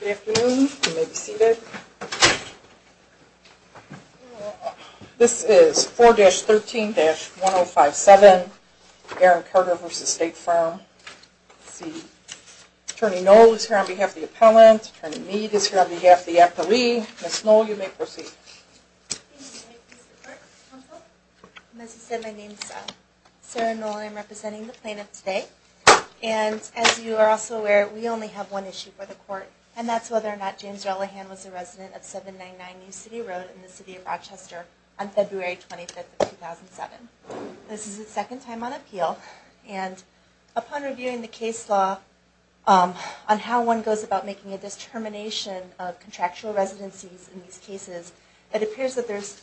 Good afternoon. You may be seated. This is 4-13-1057, Aaron Carter v. State Farm. Attorney Noll is here on behalf of the appellant. Attorney Meade is here on behalf of the appellee. Ms. Noll, you may proceed. As you said, my name is Sarah Noll. I am representing the plaintiff today. And as you are also aware, we only have one issue for the court, and that's whether or not James Ellihan was a resident of 799 New City Road in the city of Rochester on February 25, 2007. This is the second time on appeal, and upon reviewing the case law on how one goes about making a determination of contractual residencies in these cases, it appears that there's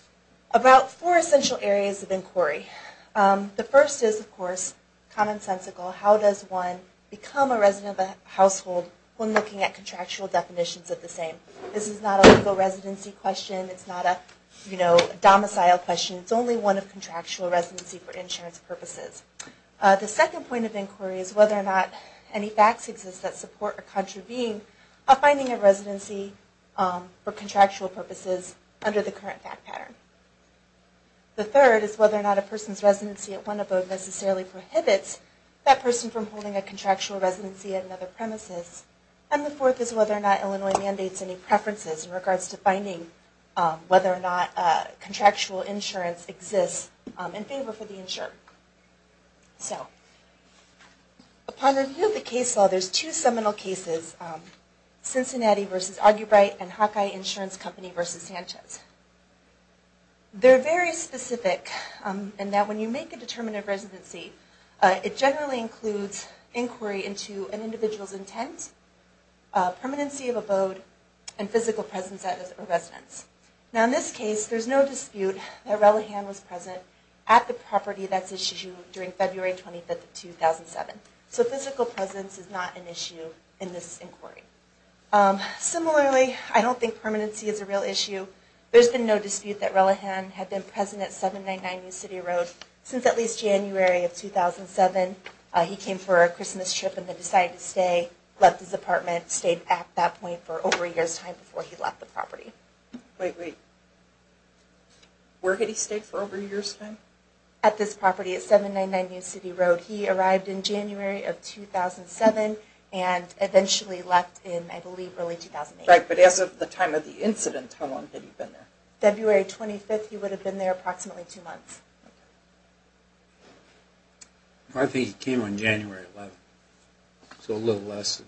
about four essential areas of inquiry. The first is, of course, commonsensical. How does one become a resident of a household when looking at contractual definitions of the same? This is not a legal residency question. It's not a domicile question. It's only one of contractual residency for insurance purposes. The second point of inquiry is whether or not any facts exist that support or contravene a finding of residency for contractual purposes under the current fact pattern. The third is whether or not a person's residency at one of those necessarily prohibits that person from holding a contractual residency at another premises. And the fourth is whether or not Illinois mandates any preferences in regards to finding whether or not contractual insurance exists in favor for the insurer. Upon review of the case law, there's two seminal cases, Cincinnati v. Argybright and Hawkeye Insurance Company v. Sanchez. They're very specific in that when you make a determinative residency, it generally includes inquiry into an individual's intent, permanency of abode, and physical presence at residence. Now in this case, there's no dispute that Relihan was present at the property that's issued during February 25, 2007. So physical presence is not an issue in this inquiry. Similarly, I don't think permanency is a real issue. There's been no dispute that Relihan had been present at 799 New City Road since at least January of 2007. He came for a Christmas trip and then decided to stay, left his apartment, stayed at that point for over a year's time before he left the property. Wait, wait. Where did he stay for over a year's time? At this property at 799 New City Road. He arrived in January of 2007 and eventually left in, I believe, early 2008. Right, but as of the time of the incident, how long had he been there? February 25th, he would have been there approximately two months. I think he came on January 11th. So a little less than...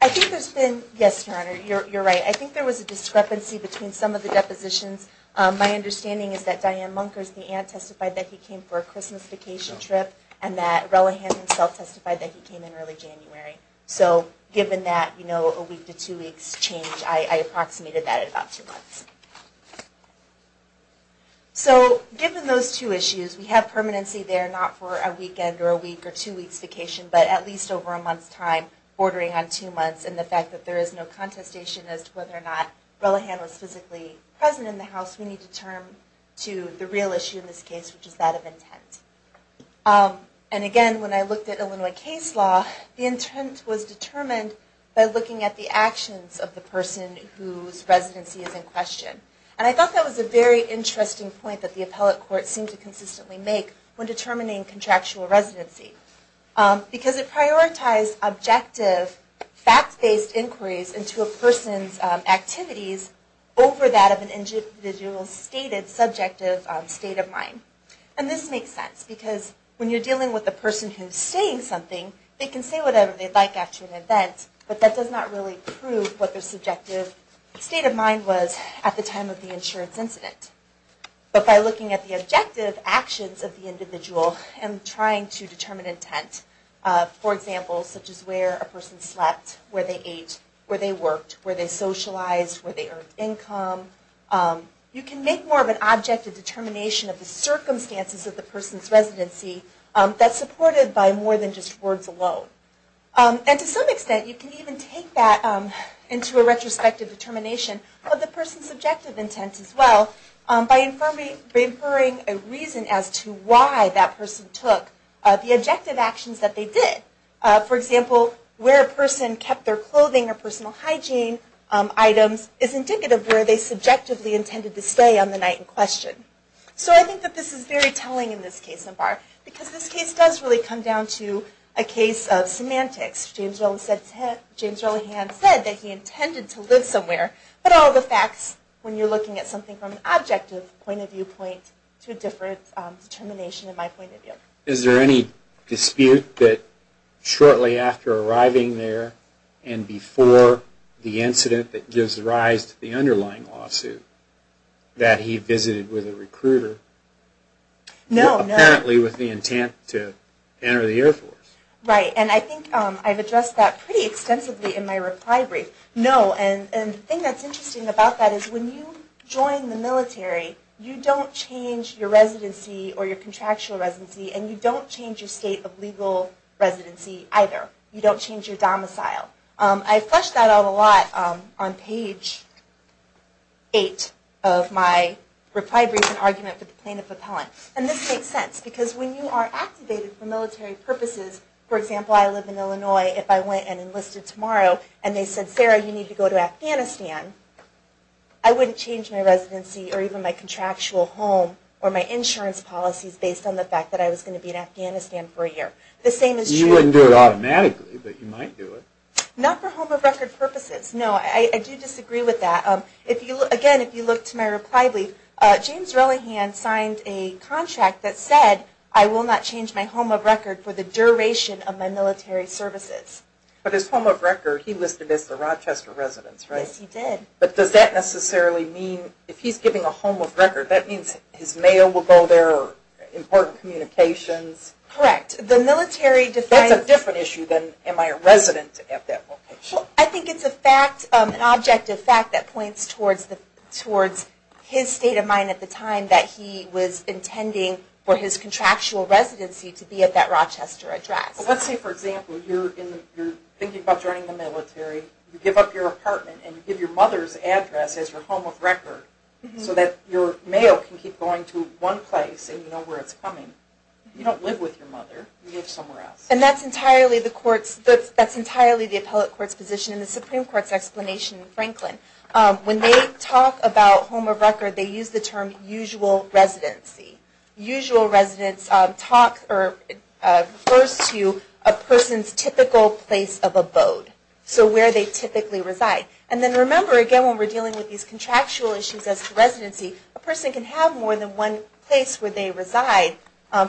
I think there's been... Yes, Your Honor, you're right. I think there was a discrepancy between some of the depositions. My understanding is that Diane Munkers, the aunt, testified that he came for a Christmas vacation trip and that Relihan himself testified that he came in early January. So given that, you know, a week to two weeks change, I approximated that at about two months. So given those two issues, we have permanency there, not for a weekend or a week or two weeks vacation, but at least over a month's time, bordering on two months, and the fact that there is no contestation as to whether or not Relihan was physically present in the house, we need to turn to the real issue in this case, which is that of intent. And again, when I looked at Illinois case law, the intent was determined by looking at the actions of the person whose residency is in question. And I thought that was a very interesting point that the appellate court seemed to consistently make when determining contractual residency. Because it prioritized objective, fact-based inquiries into a person's activities over that of an individual's stated subjective state of mind. And this makes sense, because when you're dealing with a person who's saying something, they can say whatever they'd like after an event, but that does not really prove what their subjective state of mind was at the time of the insurance incident. But by looking at the objective actions of the individual and trying to determine intent, for example, such as where a person slept, where they ate, where they worked, where they socialized, where they earned income, you can make more of an objective determination of the circumstances of the person's residency that's supported by more than just words alone. And to some extent, you can even take that into a retrospective determination of the person's objective intent as well by inferring a reason as to why that person took the objective actions that they did. For example, where a person kept their clothing or personal hygiene items is indicative of where they subjectively intended to stay on the night in question. So I think that this is very telling in this case, Ambar, because this case does really come down to a case of semantics. James Rowland Hans said that he intended to live somewhere, but all the facts when you're looking at something from an objective point of viewpoint to a different determination in my point of view. Is there any dispute that shortly after arriving there and before the incident that gives rise to the underlying lawsuit that he visited with a recruiter? No, no. Apparently with the intent to enter the Air Force. Right, and I think I've addressed that pretty extensively in my reply brief. No, and the thing that's interesting about that is when you join the military, you don't change your residency or your contractual residency, and you don't change your state of legal residency either. You don't change your domicile. I flush that out a lot on page 8 of my reply brief and argument with the plaintiff appellant. And this makes sense, because when you are activated for military purposes, for example, I live in Illinois. If I went and enlisted tomorrow and they said, Sarah, you need to go to Afghanistan, I wouldn't change my residency or even my contractual home or my insurance policies based on the fact that I was going to be in Afghanistan for a year. You wouldn't do it automatically, but you might do it. Not for home of record purposes. No, I do disagree with that. Again, if you look to my reply brief, James Relihan signed a contract that said I will not change my home of record for the duration of my military services. But his home of record, he listed as the Rochester residence, right? Yes, he did. But does that necessarily mean, if he's giving a home of record, that means his mail will go there, important communications? Correct. That's a different issue than am I a resident at that location. I think it's an objective fact that points towards his state of mind at the time that he was intending for his contractual residency to be at that Rochester address. Let's say, for example, you're thinking about joining the military, you give up your apartment and you give your mother's address as your home of record so that your mail can keep going to one place and you know where it's coming. You don't live with your mother, you live somewhere else. And that's entirely the appellate court's position in the Supreme Court's explanation in Franklin. When they talk about home of record, they use the term usual residency. Usual residency refers to a person's typical place of abode. So where they typically reside. And then remember, again, when we're dealing with these contractual issues as to residency, a person can have more than one place where they reside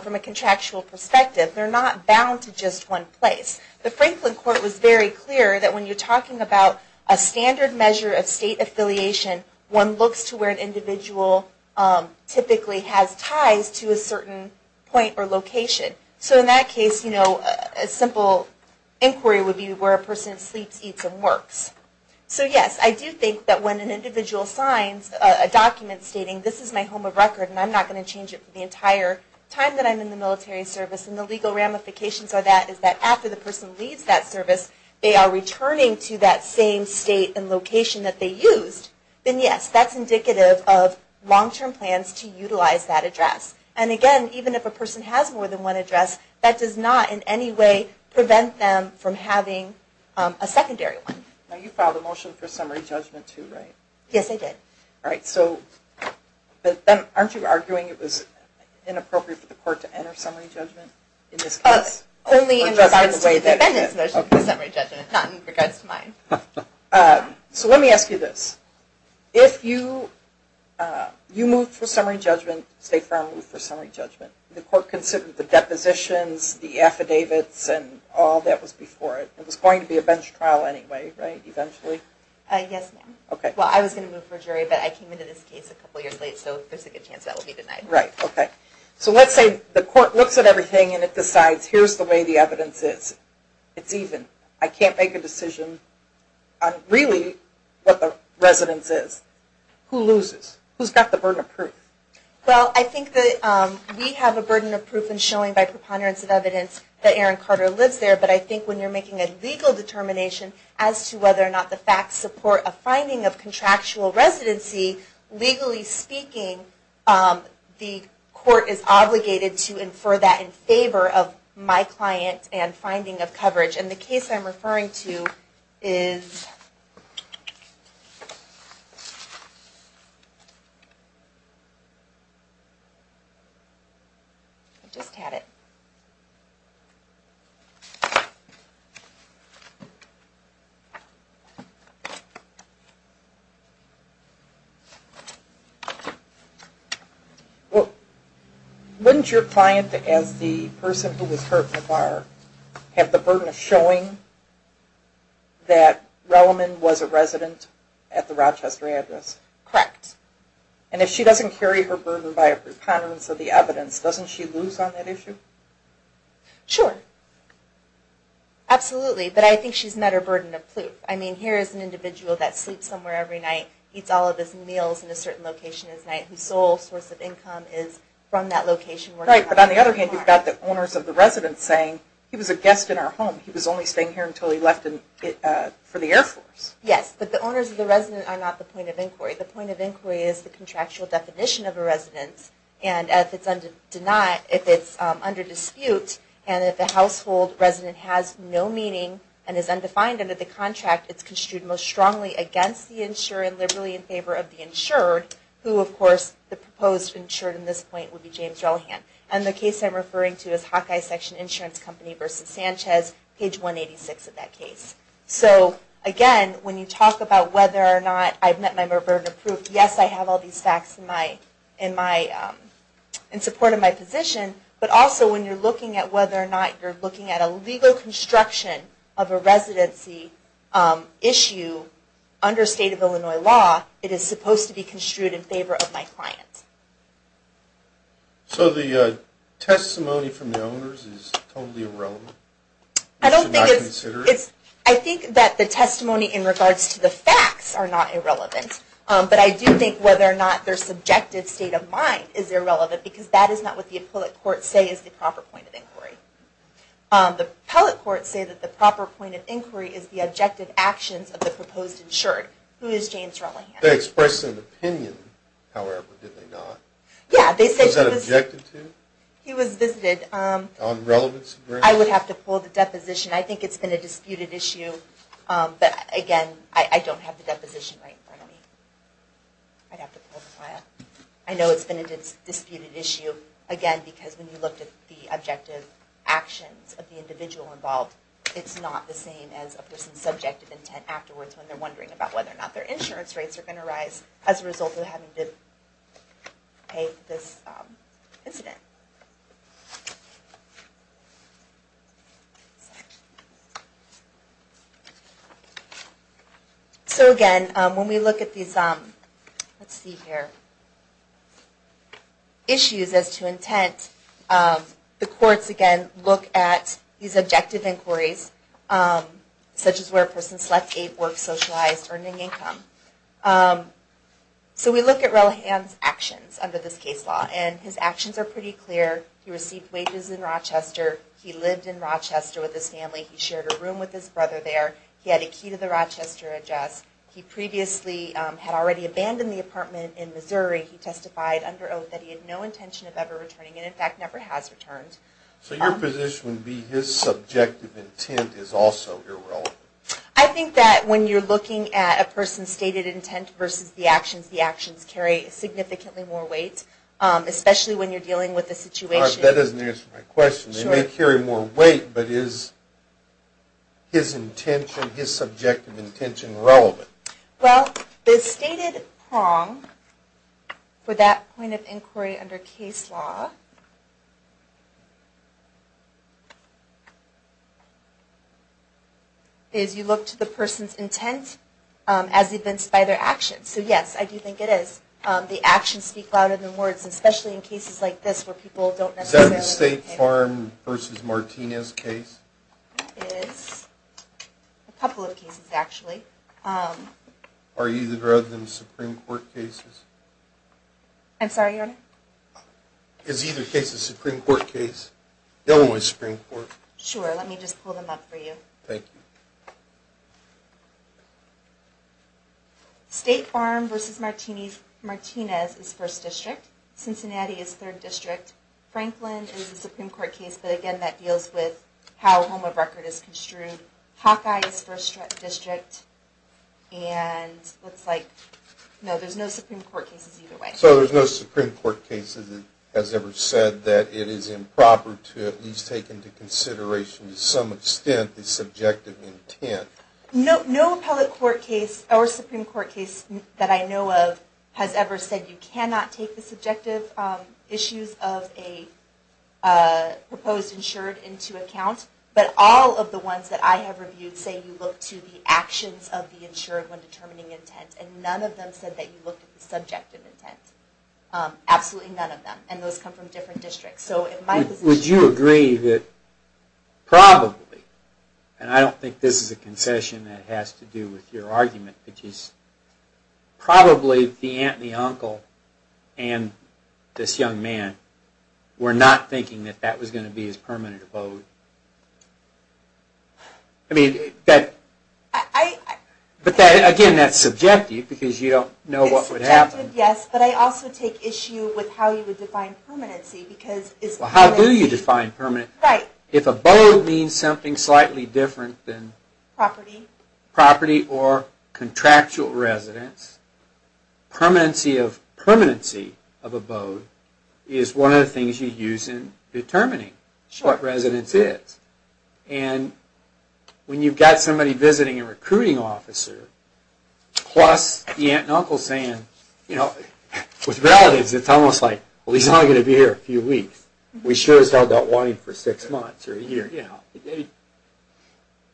from a contractual perspective. They're not bound to just one place. The Franklin court was very clear that when you're talking about a standard measure of state affiliation, one looks to where an individual typically has ties to a certain point or location. So in that case, a simple inquiry would be where a person sleeps, eats, and works. So yes, I do think that when an individual signs a document stating this is my home of record and I'm not going to change it for the entire time that I'm in the military service and the legal ramifications of that is that after the person leaves that service, they are returning to that same state and location that they used, then yes, that's indicative of long-term plans to utilize that address. And again, even if a person has more than one address, that does not in any way prevent them from having a secondary one. Now you filed a motion for summary judgment too, right? Yes, I did. All right, so aren't you arguing it was inappropriate for the court to enter summary judgment in this case? Only in regards to the defendant's motion for summary judgment, not in regards to mine. So let me ask you this. If you moved for summary judgment, State Farm moved for summary judgment, the court considered the depositions, the affidavits, and all that was before it. It was going to be a bench trial anyway, right, eventually? Yes, ma'am. Okay. Well, I was going to move for jury, but I came into this case a couple years late, so there's a good chance that will be denied. Right, okay. So let's say the court looks at everything and it decides, here's the way the evidence is. It's even. I can't make a decision on really what the residence is. Who loses? Who's got the burden of proof? Well, I think that we have a burden of proof in showing by preponderance of evidence that Aaron Carter lives there, but I think when you're making a legal determination as to whether or not the facts support a finding of contractual residency, legally speaking the court is obligated to infer that in favor of my client and finding of coverage. And the case I'm referring to is, I just had it. Well, wouldn't your client, as the person who was hurt in the bar, have the burden of showing that Releman was a resident at the Rochester address? Correct. And if she doesn't carry her burden by a preponderance of the evidence, doesn't she lose on that issue? Sure. Absolutely. But I think she's met her burden of proof. I mean, here is an individual that sleeps somewhere every night, eats all of his meals in a certain location his night, whose sole source of income is from that location. Right. But on the other hand, you've got the owners of the residence saying, he was a guest in our home. He was only staying here until he left for the Air Force. Yes. But the owners of the residence are not the point of inquiry. The point of inquiry is the contractual definition of a residence. And if it's under dispute and if the household resident has no meaning and is undefined under the contract, it's construed most strongly against the insured and liberally in favor of the insured, who, of course, the proposed insured in this point would be James Ellihan. And the case I'm referring to is Hawkeye Section Insurance Company v. Sanchez, page 186 of that case. So again, when you talk about whether or not I've met my burden of proof, yes, I have all these facts in support of my position. But also when you're looking at whether or not you're looking at a legal construction of a residency issue under state of Illinois law, it is supposed to be construed in favor of my client. So the testimony from the owners is totally irrelevant? I think that the testimony in regards to the facts are not irrelevant. But I do think whether or not their subjective state of mind is irrelevant because that is not what the appellate courts say is the proper point of inquiry. The appellate courts say that the proper point of inquiry is the objective actions of the proposed insured. Who is James Ellihan? They expressed an opinion, however, did they not? Yeah. Was that objected to? He was visited. On relevancy grounds? I would have to pull the deposition. I think it's been a disputed issue. But again, I don't have the deposition right in front of me. I'd have to pull the file. I know it's been a disputed issue. Again, because when you looked at the objective actions of the individual involved, it's not the same as a person's subjective intent afterwards when they're wondering about whether or not their insurance rates are going to rise as a result of having to pay this incident. So again, when we look at these issues as to intent, the courts, again, look at these objective inquiries, such as where a person slept, ate, worked, socialized, earning income. So we look at Ellihan's actions under this case law, and his actions are pretty clear. He received wages in Rochester. He lived in Rochester with his family. He shared a room with his brother there. He had a key to the Rochester address. He previously had already abandoned the apartment in Missouri. He testified under oath that he had no intention of ever returning and, in fact, never has returned. So your position would be his subjective intent is also irrelevant. I think that when you're looking at a person's stated intent versus the actions, the actions carry significantly more weight, especially when you're dealing with a situation. That doesn't answer my question. They may carry more weight, but is his intention, his subjective intention, relevant? Well, the stated prong for that point of inquiry under case law is you look to the person's intent as evinced by their actions. So, yes, I do think it is. The actions speak louder than words, especially in cases like this where people don't necessarily... Is that the State Farm versus Martinez case? It is. A couple of cases, actually. Are either of them Supreme Court cases? I'm sorry, Your Honor? Is either case a Supreme Court case? The other one was Supreme Court. Sure, let me just pull them up for you. Thank you. State Farm versus Martinez is 1st District. Cincinnati is 3rd District. Franklin is a Supreme Court case, but again, that deals with how home of record is construed. Hawkeye is 1st District. And looks like... No, there's no Supreme Court cases either way. So there's no Supreme Court case that has ever said that it is improper to at least take into consideration to some extent the subjective intent. No appellate court case or Supreme Court case that I know of has ever said you cannot take the subjective issues of a proposed insured into account. But all of the ones that I have reviewed say you look to the actions of the insured when determining intent. And none of them said that you looked at the subjective intent. Absolutely none of them. And those come from different districts. Would you agree that probably, and I don't think this is a concession that has to do with your argument, which is probably the aunt and the uncle and this young man were not thinking that that was going to be his permanent abode? I mean, that... I... But again, that's subjective because you don't know what would happen. It's subjective, yes, but I also take issue with how you would define permanency because... Well, how do you define permanency? Right. If abode means something slightly different than... Property. Property or contractual residence, permanency of abode is one of the things you use in determining what residence is. And when you've got somebody visiting a recruiting officer, plus the aunt and uncle saying, you know, with relatives it's almost like, well, he's only going to be here a few weeks. We sure as hell don't want him for six months or a year.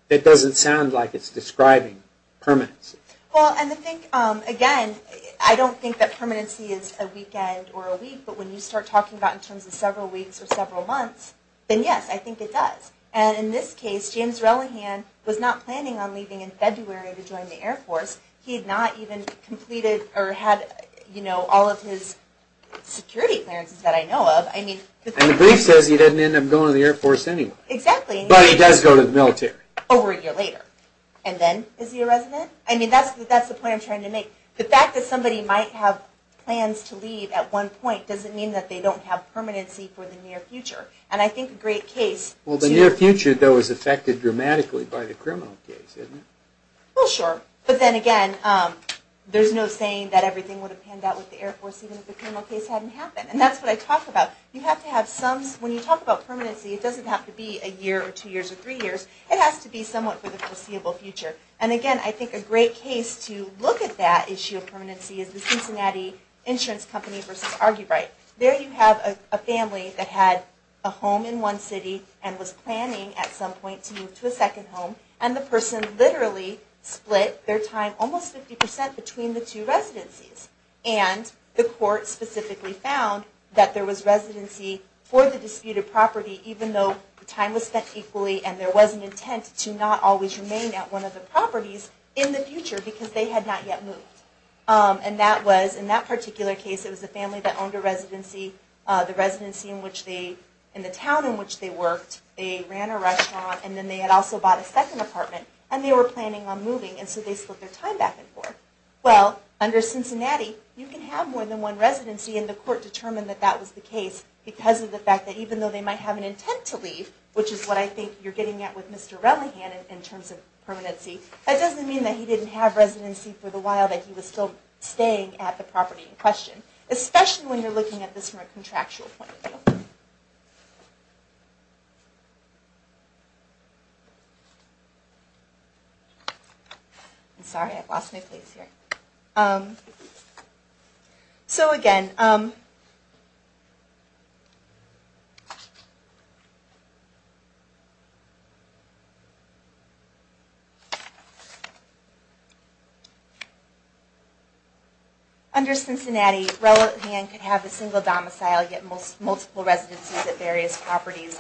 It doesn't sound like it's describing permanency. Well, and I think, again, I don't think that permanency is a weekend or a week, but when you start talking about it in terms of several weeks or several months, then yes, I think it does. And in this case, James Relihan was not planning on leaving in February to join the Air Force. He had not even completed or had all of his security clearances that I know of. And the brief says he didn't end up going to the Air Force anyway. Exactly. But he does go to the military. Over a year later. And then is he a resident? I mean, that's the point I'm trying to make. The fact that somebody might have plans to leave at one point doesn't mean that they don't have permanency for the near future. And I think a great case... Well, the near future, though, is affected dramatically by the criminal case, isn't it? Well, sure. But then again, there's no saying that everything would have panned out with the Air Force even if the criminal case hadn't happened. And that's what I talk about. You have to have some... When you talk about permanency, it doesn't have to be a year or two years or three years. It has to be somewhat for the foreseeable future. And again, I think a great case to look at that issue of permanency is the Cincinnati Insurance Company v. Argybright. There you have a family that had a home in one city and was planning at some point to move to a second home. And the person literally split their time almost 50% between the two residencies. And the court specifically found that there was residency for the disputed property even though the time was spent equally and there was an intent to not always remain at one of the properties in the future because they had not yet moved. And that was, in that particular case, it was the family that owned a residency, the residency in the town in which they worked. They ran a restaurant and then they had also bought a second apartment and they were planning on moving and so they split their time back and forth. Well, under Cincinnati, you can have more than one residency and the court determined that that was the case because of the fact that even though they might have an intent to leave, which is what I think you're getting at with Mr. Relihan in terms of permanency, that doesn't mean that he didn't have residency for the while that he was still staying at the property in question, especially when you're looking at this from a contractual point of view. Sorry, I've lost my place here. So again, under Cincinnati, Relihan could have a single domicile, yet multiple residencies at various properties.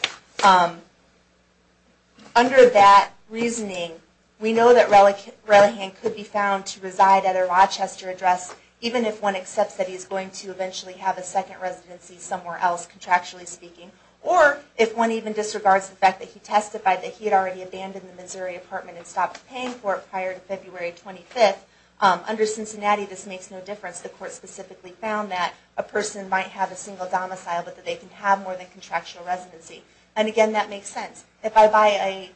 Under that reasoning, we know that Relihan could be found to reside at a Rochester address even if one accepts that he's going to eventually have a second residency somewhere else, contractually speaking, or if one even disregards the fact that he testified that he had already abandoned the Missouri apartment and stopped paying for it prior to February 25th. Under Cincinnati, this makes no difference. The court specifically found that a person might have a single domicile but that they can have more than contractual residency. And again, that makes sense. If I buy a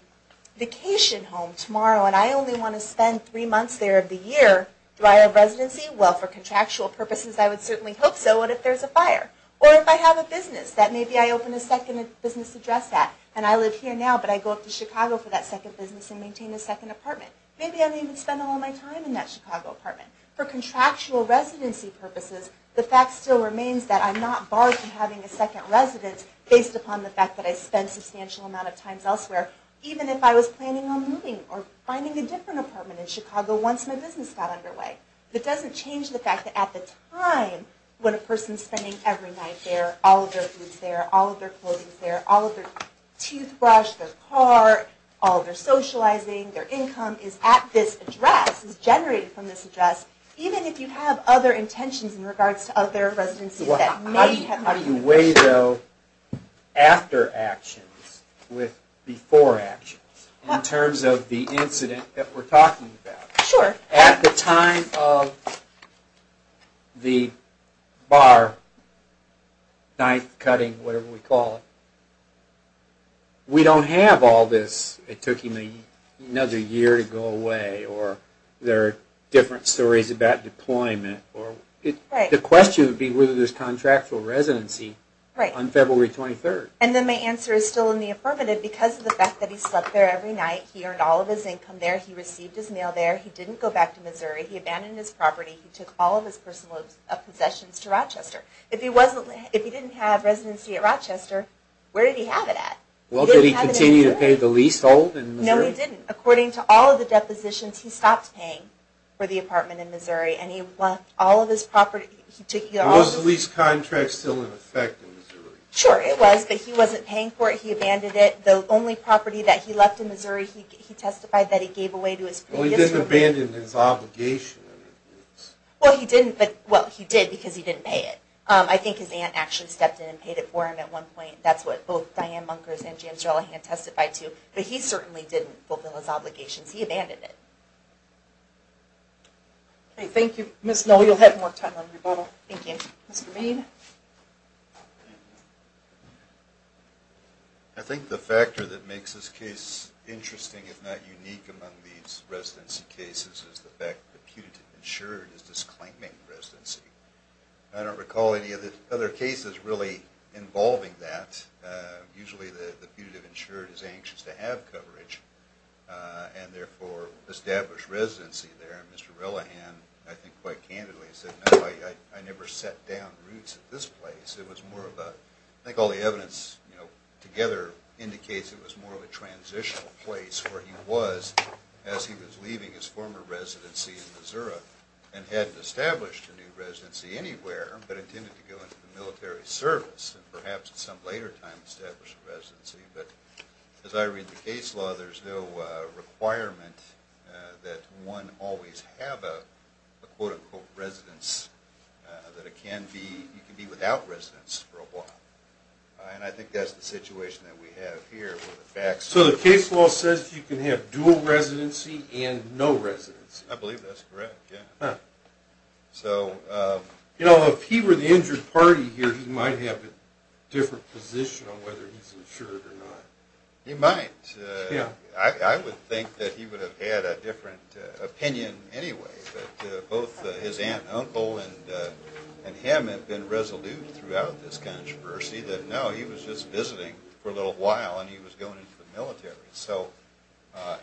vacation home tomorrow and I only want to spend three months there of the year prior to residency, well, for contractual purposes I would certainly hope so, what if there's a fire? Or if I have a business that maybe I open a second business address at, and I live here now but I go up to Chicago for that second business and maintain a second apartment, maybe I don't even spend all my time in that Chicago apartment. For contractual residency purposes, the fact still remains that I'm not disqualified from having a second residence based upon the fact that I spend a substantial amount of time elsewhere, even if I was planning on moving or finding a different apartment in Chicago once my business got underway. It doesn't change the fact that at the time when a person's spending every night there, all of their food's there, all of their clothing's there, all of their toothbrush, their car, all of their socializing, their income is at this address, is generated from this address, even if you have other residencies. How do you weigh, though, after actions with before actions in terms of the incident that we're talking about? Sure. At the time of the bar, knife cutting, whatever we call it, we don't have all this, it took him another year to go away, or there are different stories about deployment. Right. The question would be whether there's contractual residency on February 23rd. And then my answer is still in the affirmative because of the fact that he slept there every night, he earned all of his income there, he received his mail there, he didn't go back to Missouri, he abandoned his property, he took all of his personal possessions to Rochester. If he didn't have residency at Rochester, where did he have it at? Well, did he continue to pay the leasehold in Missouri? No, he didn't. According to all of the depositions, he stopped paying for the apartment in Was the lease contract still in effect in Missouri? Sure, it was, but he wasn't paying for it, he abandoned it. The only property that he left in Missouri, he testified that he gave away to his previous owner. Well, he didn't abandon his obligation. Well, he did because he didn't pay it. I think his aunt actually stepped in and paid it for him at one point. That's what both Diane Munkers and James Relihan testified to. But he certainly didn't fulfill his obligations. He abandoned it. Okay, thank you. Ms. Noll, you'll have more time on rebuttal. Thank you. Mr. Main? I think the factor that makes this case interesting, if not unique, among these residency cases is the fact that the putative insured is disclaiming residency. I don't recall any other cases really involving that. Mr. Relihan, I think quite candidly, said no, I never set down roots at this place. I think all the evidence together indicates it was more of a transitional place where he was as he was leaving his former residency in Missouri and hadn't established a new residency anywhere but intended to go into the As I read the case law, there's no requirement that one always have a quote-unquote residence, that it can be without residence for a while. And I think that's the situation that we have here. So the case law says you can have dual residency and no residency? I believe that's correct, yeah. You know, if he were the injured party here, he might have a different position on whether he's insured or not. He might. Yeah. I would think that he would have had a different opinion anyway, that both his aunt and uncle and him had been resolute throughout this controversy that no, he was just visiting for a little while and he was going into the military.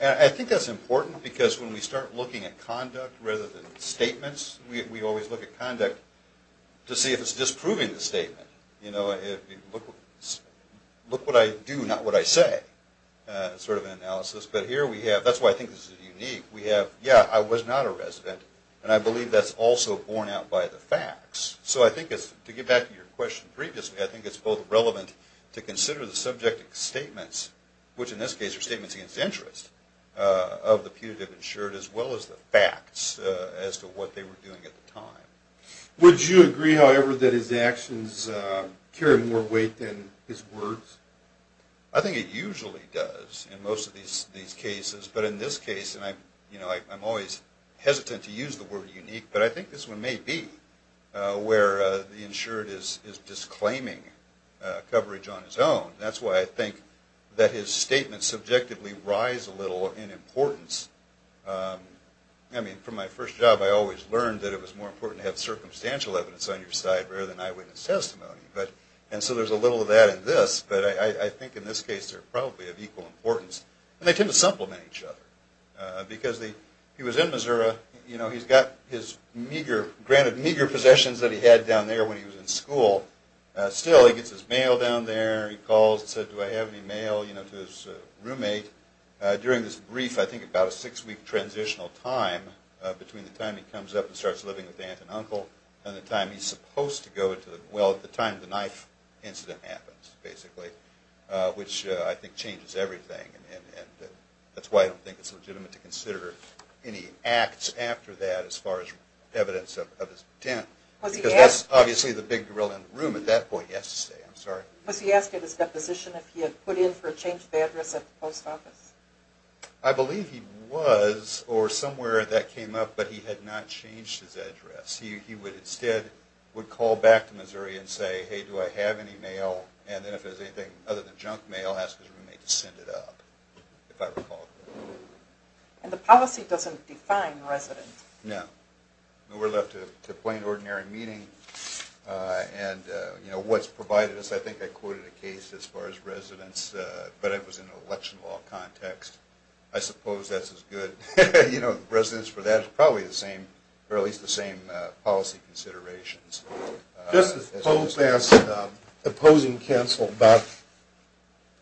And I think that's important because when we start looking at conduct rather than statements, we always look at conduct to see if it's disproving the statement. You know, look what I do, not what I say, sort of an analysis. But here we have, that's why I think this is unique, we have yeah, I was not a resident and I believe that's also borne out by the facts. So I think it's, to get back to your question previously, I think it's both relevant to consider the subject statements, which in this case are statements against interest of the punitive insured as well as the facts as to what they were doing at the time. Would you agree, however, that his actions carry more weight than his words? I think it usually does in most of these cases. But in this case, and I'm always hesitant to use the word unique, but I think this one may be where the insured is disclaiming coverage on his own. That's why I think that his statements subjectively rise a little in importance. I mean, from my first job I always learned that it was more important to have circumstantial evidence on your side rather than eyewitness testimony. And so there's a little of that in this, but I think in this case they're probably of equal importance. And they tend to supplement each other. Because he was in Missouri, you know, he's got his meager, granted meager possessions that he had down there when he was in school. Still, he gets his mail down there, he calls and said, do I have any mail, you know, to his roommate. During this brief, I think about a six-week transitional time between the time he comes up and starts living with aunt and uncle and the time he's supposed to go to the, well, at the time the knife incident happens, basically, which I think changes everything. And that's why I don't think it's legitimate to consider any acts after that as far as evidence of his intent. Because that's obviously the big gorilla in the room at that point, he has to stay, I'm sorry. Was he asked at his deposition if he had put in for a change of address at the post office? I believe he was, or somewhere that came up, but he had not changed his address. He would instead would call back to Missouri and say, hey, do I have any mail, and then if it was anything other than junk mail, ask his roommate to send it up, if I recall. And the policy doesn't define resident. No. We're left to plain, ordinary meeting. And, you know, what's provided us, I think I quoted a case as far as context. I suppose that's as good. You know, residence for that is probably the same, or at least the same policy considerations. Justice Pope asked opposing counsel about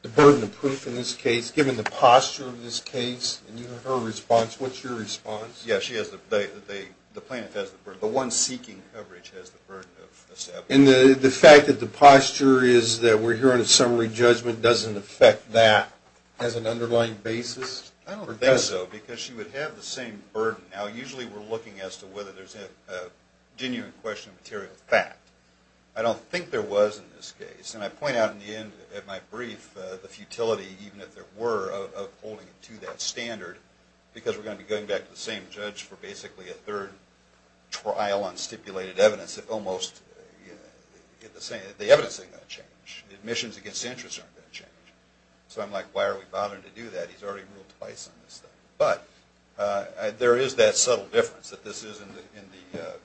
the burden of proof in this case, given the posture of this case, and her response, what's your response? Yeah, she has the, the plaintiff has the burden, the one seeking coverage has the burden of establishing. And the fact that the posture is that we're hearing a summary judgment doesn't affect that as an underlying basis? I don't think so, because she would have the same burden. Now, usually we're looking as to whether there's a genuine question of material fact. I don't think there was in this case, and I point out in the end of my brief, the futility, even if there were, of holding to that standard, because we're going to be going back to the same judge for basically a third trial on stipulated evidence, if almost, you know, the evidence isn't going to change. Admissions against interest aren't going to change. So I'm like, why are we bothering to do that? He's already ruled twice on this thing. But there is that subtle difference that this is in the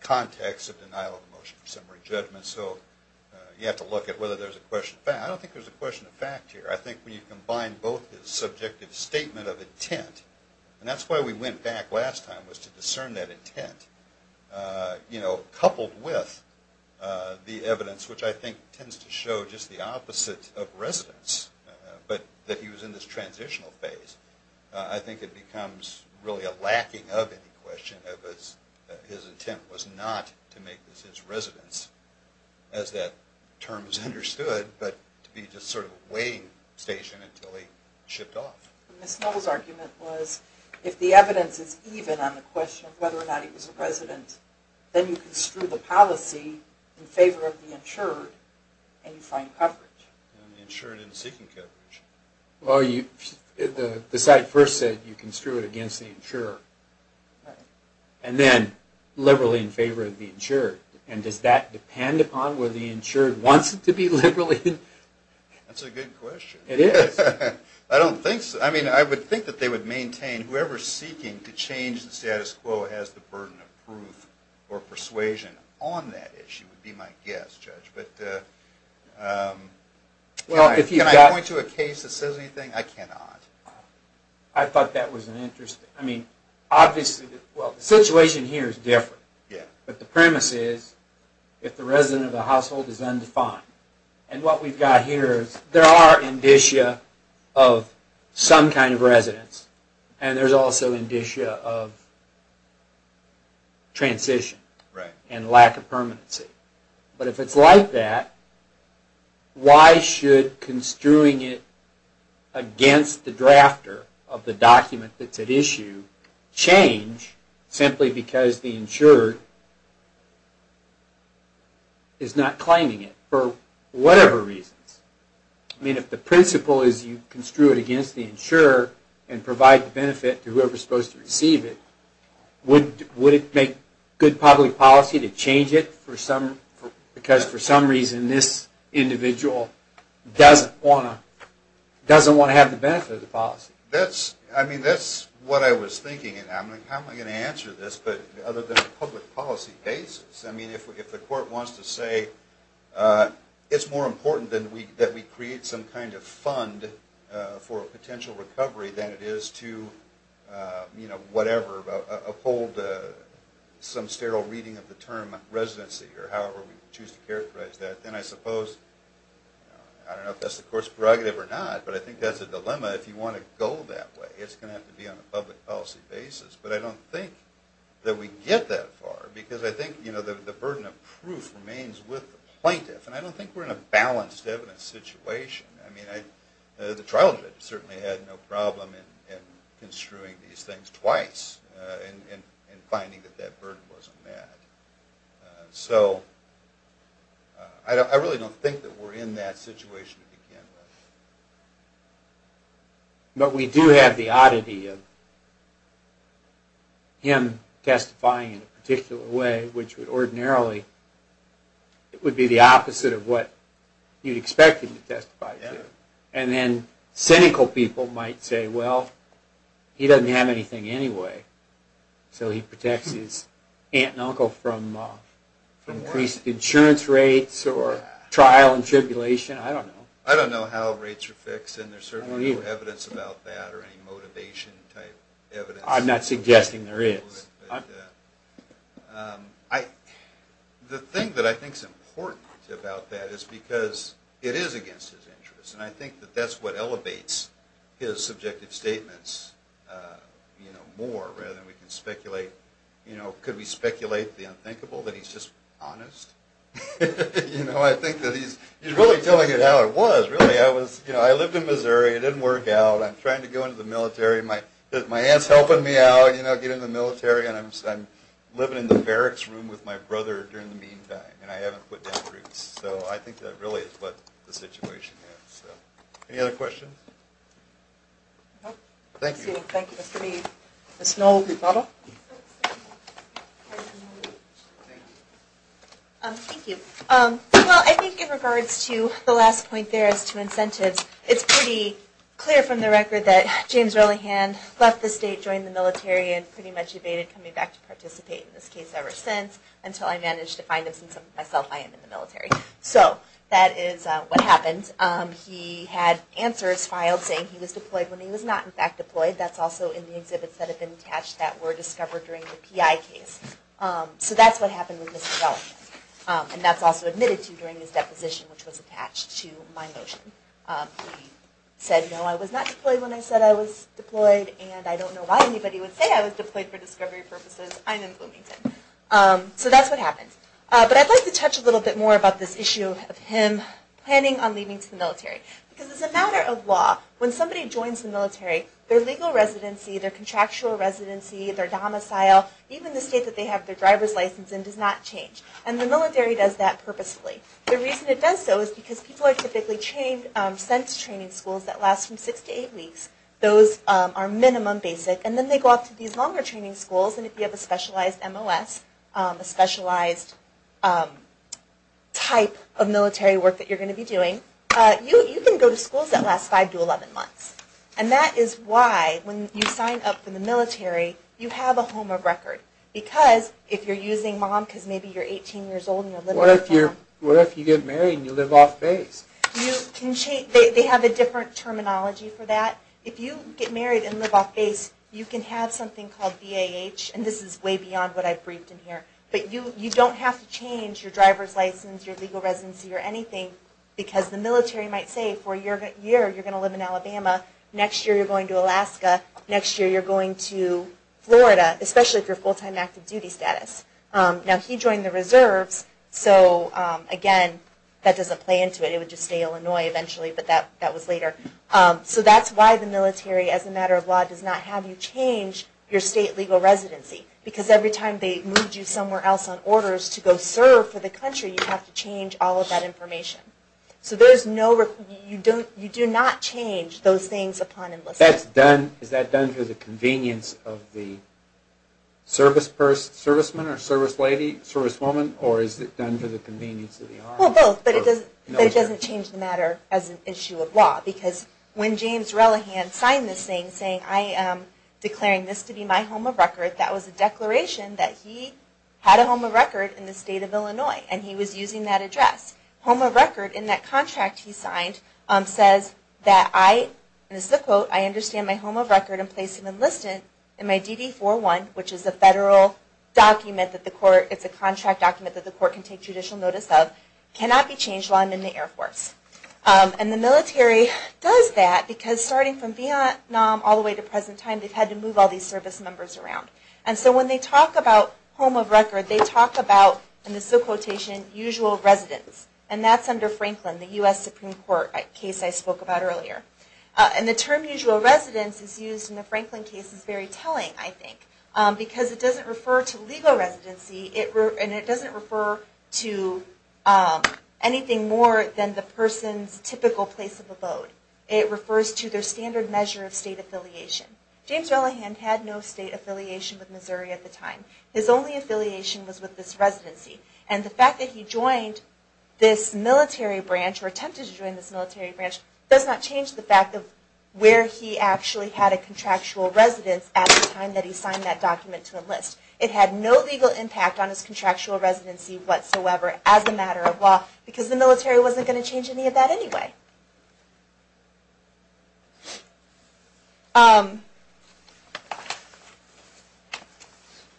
context of denial of motion for summary judgment. So you have to look at whether there's a question of fact. I don't think there's a question of fact here. I think when you combine both the subjective statement of intent, and that's why we went back last time, was to discern that intent, you know, just the opposite of residence, but that he was in this transitional phase. I think it becomes really a lacking of any question of his intent was not to make this his residence, as that term is understood, but to be just sort of a waiting station until he shipped off. Ms. Snow's argument was if the evidence is even on the question of whether or not he was a resident, then you construe the policy in favor of the insured, and you find coverage. The insured isn't seeking coverage. Well, the site first said you construe it against the insurer, and then liberally in favor of the insured. And does that depend upon whether the insured wants it to be liberally insured? That's a good question. It is. I don't think so. I mean, I would think that they would maintain whoever's seeking to change the status quo has the burden of proof or persuasion on that issue would be my guess, Judge. But can I point to a case that says anything? I cannot. I thought that was interesting. I mean, obviously, well, the situation here is different, but the premise is if the resident of the household is undefined, and what we've got here is there are indicia of some kind of residence, and there's also indicia of transition and lack of permanency. But if it's like that, why should construing it against the drafter of the document that's at issue change simply because the insured is not claiming it for whatever reasons? I mean, if the principle is you construe it against the insurer and provide the benefit to whoever's supposed to receive it, would it make good public policy to change it because for some reason this individual doesn't want to have the benefit of the policy? I mean, that's what I was thinking. How am I going to answer this other than a public policy basis? I mean, if the court wants to say it's more important that we create some kind of fund for a potential recovery than it is to uphold some sterile reading of the term residency or however we choose to characterize that, then I suppose, I don't know if that's the court's prerogative or not, but I think that's a dilemma if you want to go that way. It's going to have to be on a public policy basis. But I don't think that we get that far because I think the burden of proof remains with the plaintiff. And I don't think we're in a balanced evidence situation. I mean, the trial judge certainly had no problem in construing these things twice and finding that that burden wasn't met. So I really don't think that we're in that situation to begin with. But we do have the oddity of him testifying in a particular way, which would ordinarily be the opposite of what you'd expect him to testify to. And then cynical people might say, well, he doesn't have anything anyway, so he protects his aunt and uncle from increased insurance rates or trial and tribulation. I don't know. I don't know how rates are fixed, and there's certainly no evidence about that or any motivation type evidence. I'm not suggesting there is. The thing that I think is important about that is because it is against his interests, and I think that that's what elevates his subjective statements more rather than we can speculate. Could we speculate the unthinkable, that he's just honest? I think that he's really telling it how it was. I lived in Missouri. It didn't work out. I'm trying to go into the military. My aunt's helping me out, you know, get in the military, and I'm living in the barracks room with my brother during the meantime, and I haven't put down roots. So I think that really is what the situation is. Any other questions? No. Thank you. Thank you, Mr. Mead. Ms. Noll, do you follow? Thank you. Well, I think in regards to the last point there as to incentives, it's pretty clear from the record that James Ellingham left the state, joined the military, and pretty much evaded coming back to participate in this case ever since until I managed to find him since, myself, I am in the military. So that is what happened. He had answers filed saying he was deployed when he was not, in fact, deployed. That's also in the exhibits that have been attached that were discovered during the PI case. So that's what happened with Mr. Ellingham, and that's also admitted to during his deposition, which was attached to my motion. He said, no, I was not deployed when I said I was deployed, and I don't know why anybody would say I was deployed for discovery purposes. I'm in Bloomington. So that's what happened. But I'd like to touch a little bit more about this issue of him planning on leaving to the military. Because as a matter of law, when somebody joins the military, their legal residency, their contractual residency, their domicile, even the state that they have their driver's license in does not change. And the military does that purposefully. The reason it does so is because people are typically sent to training schools that last from six to eight weeks. Those are minimum, basic. And then they go off to these longer training schools. And if you have a specialized MOS, a specialized type of military work that you're going to be doing, you can go to schools that last five to 11 months. And that is why when you sign up for the military, you have a home of record. Because if you're using mom because maybe you're 18 years old and you're living with your mom. What if you get married and you live off base? They have a different terminology for that. If you get married and live off base, you can have something called VAH. And this is way beyond what I've briefed in here. But you don't have to change your driver's license, your legal residency, or anything. Because the military might say for a year you're going to live in Alabama. Next year you're going to Alaska. Next year you're going to Florida, especially if you're full-time active duty status. Now, he joined the reserves. So, again, that doesn't play into it. It would just say Illinois eventually, but that was later. So that's why the military, as a matter of law, does not have you change your state legal residency. Because every time they moved you somewhere else on orders to go serve for the country, you have to change all of that information. So you do not change those things upon enlistment. Is that done for the convenience of the service person, serviceman, or service lady, service woman? Or is it done for the convenience of the Army? Well, both. But it doesn't change the matter as an issue of law. Because when James Relihan signed this thing saying, I am declaring this to be my home of record, that was a declaration that he had a home of record in the state of Illinois. And he was using that address. Home of record in that contract he signed says that I, and this is a quote, I understand my home of record and place of enlistment in my DD-4-1, which is a federal document that the court, it's a contract document that the court can take judicial notice of, cannot be changed while I'm in the Air Force. And the military does that because starting from Vietnam all the way to present time, they've had to move all these service members around. And so when they talk about home of record, they talk about, and this is a quotation, usual residence. And that's under Franklin, the U.S. Supreme Court case I spoke about earlier. And the term usual residence is used in the Franklin case is very telling, I think. Because it doesn't refer to legal residency, and it doesn't refer to anything more than the person's typical place of abode. It refers to their standard measure of state affiliation. James Ellingham had no state affiliation with Missouri at the time. His only affiliation was with this residency. And the fact that he joined this military branch, or attempted to join this military branch, does not change the fact of where he actually had a contractual residence at the time that he signed that document to enlist. It had no legal impact on his contractual residency whatsoever as a matter of law, because the military wasn't going to change any of that anyway.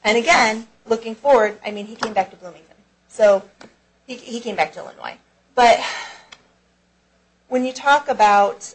And again, looking forward, he came back to Bloomington. He came back to Illinois. But when you talk about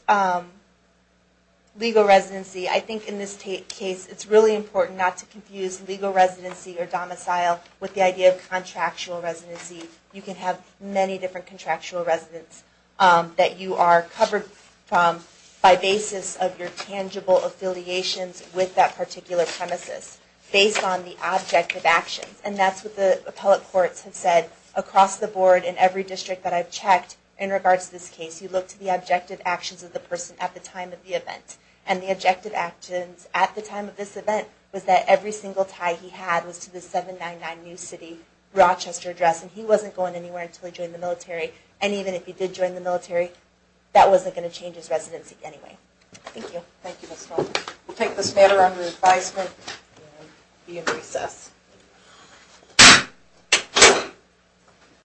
legal residency, I think in this case it's really important not to confuse legal residency or domicile with the idea of contractual residency. You can have many different contractual residences that you are covered from by basis of your tangible affiliations with that particular premises, based on the objective actions. And that's what the appellate courts have said across the board in every district that I've checked in regards to this case. You look to the objective actions of the person at the time of the event. And the objective actions at the time of this event was that every single tie he had was to the 799 New City Rochester address. And he wasn't going anywhere until he joined the military. And even if he did join the military, that wasn't going to change his residency anyway. Thank you. Thank you, Ms. Schultz. We'll take this matter under advisement and be in recess.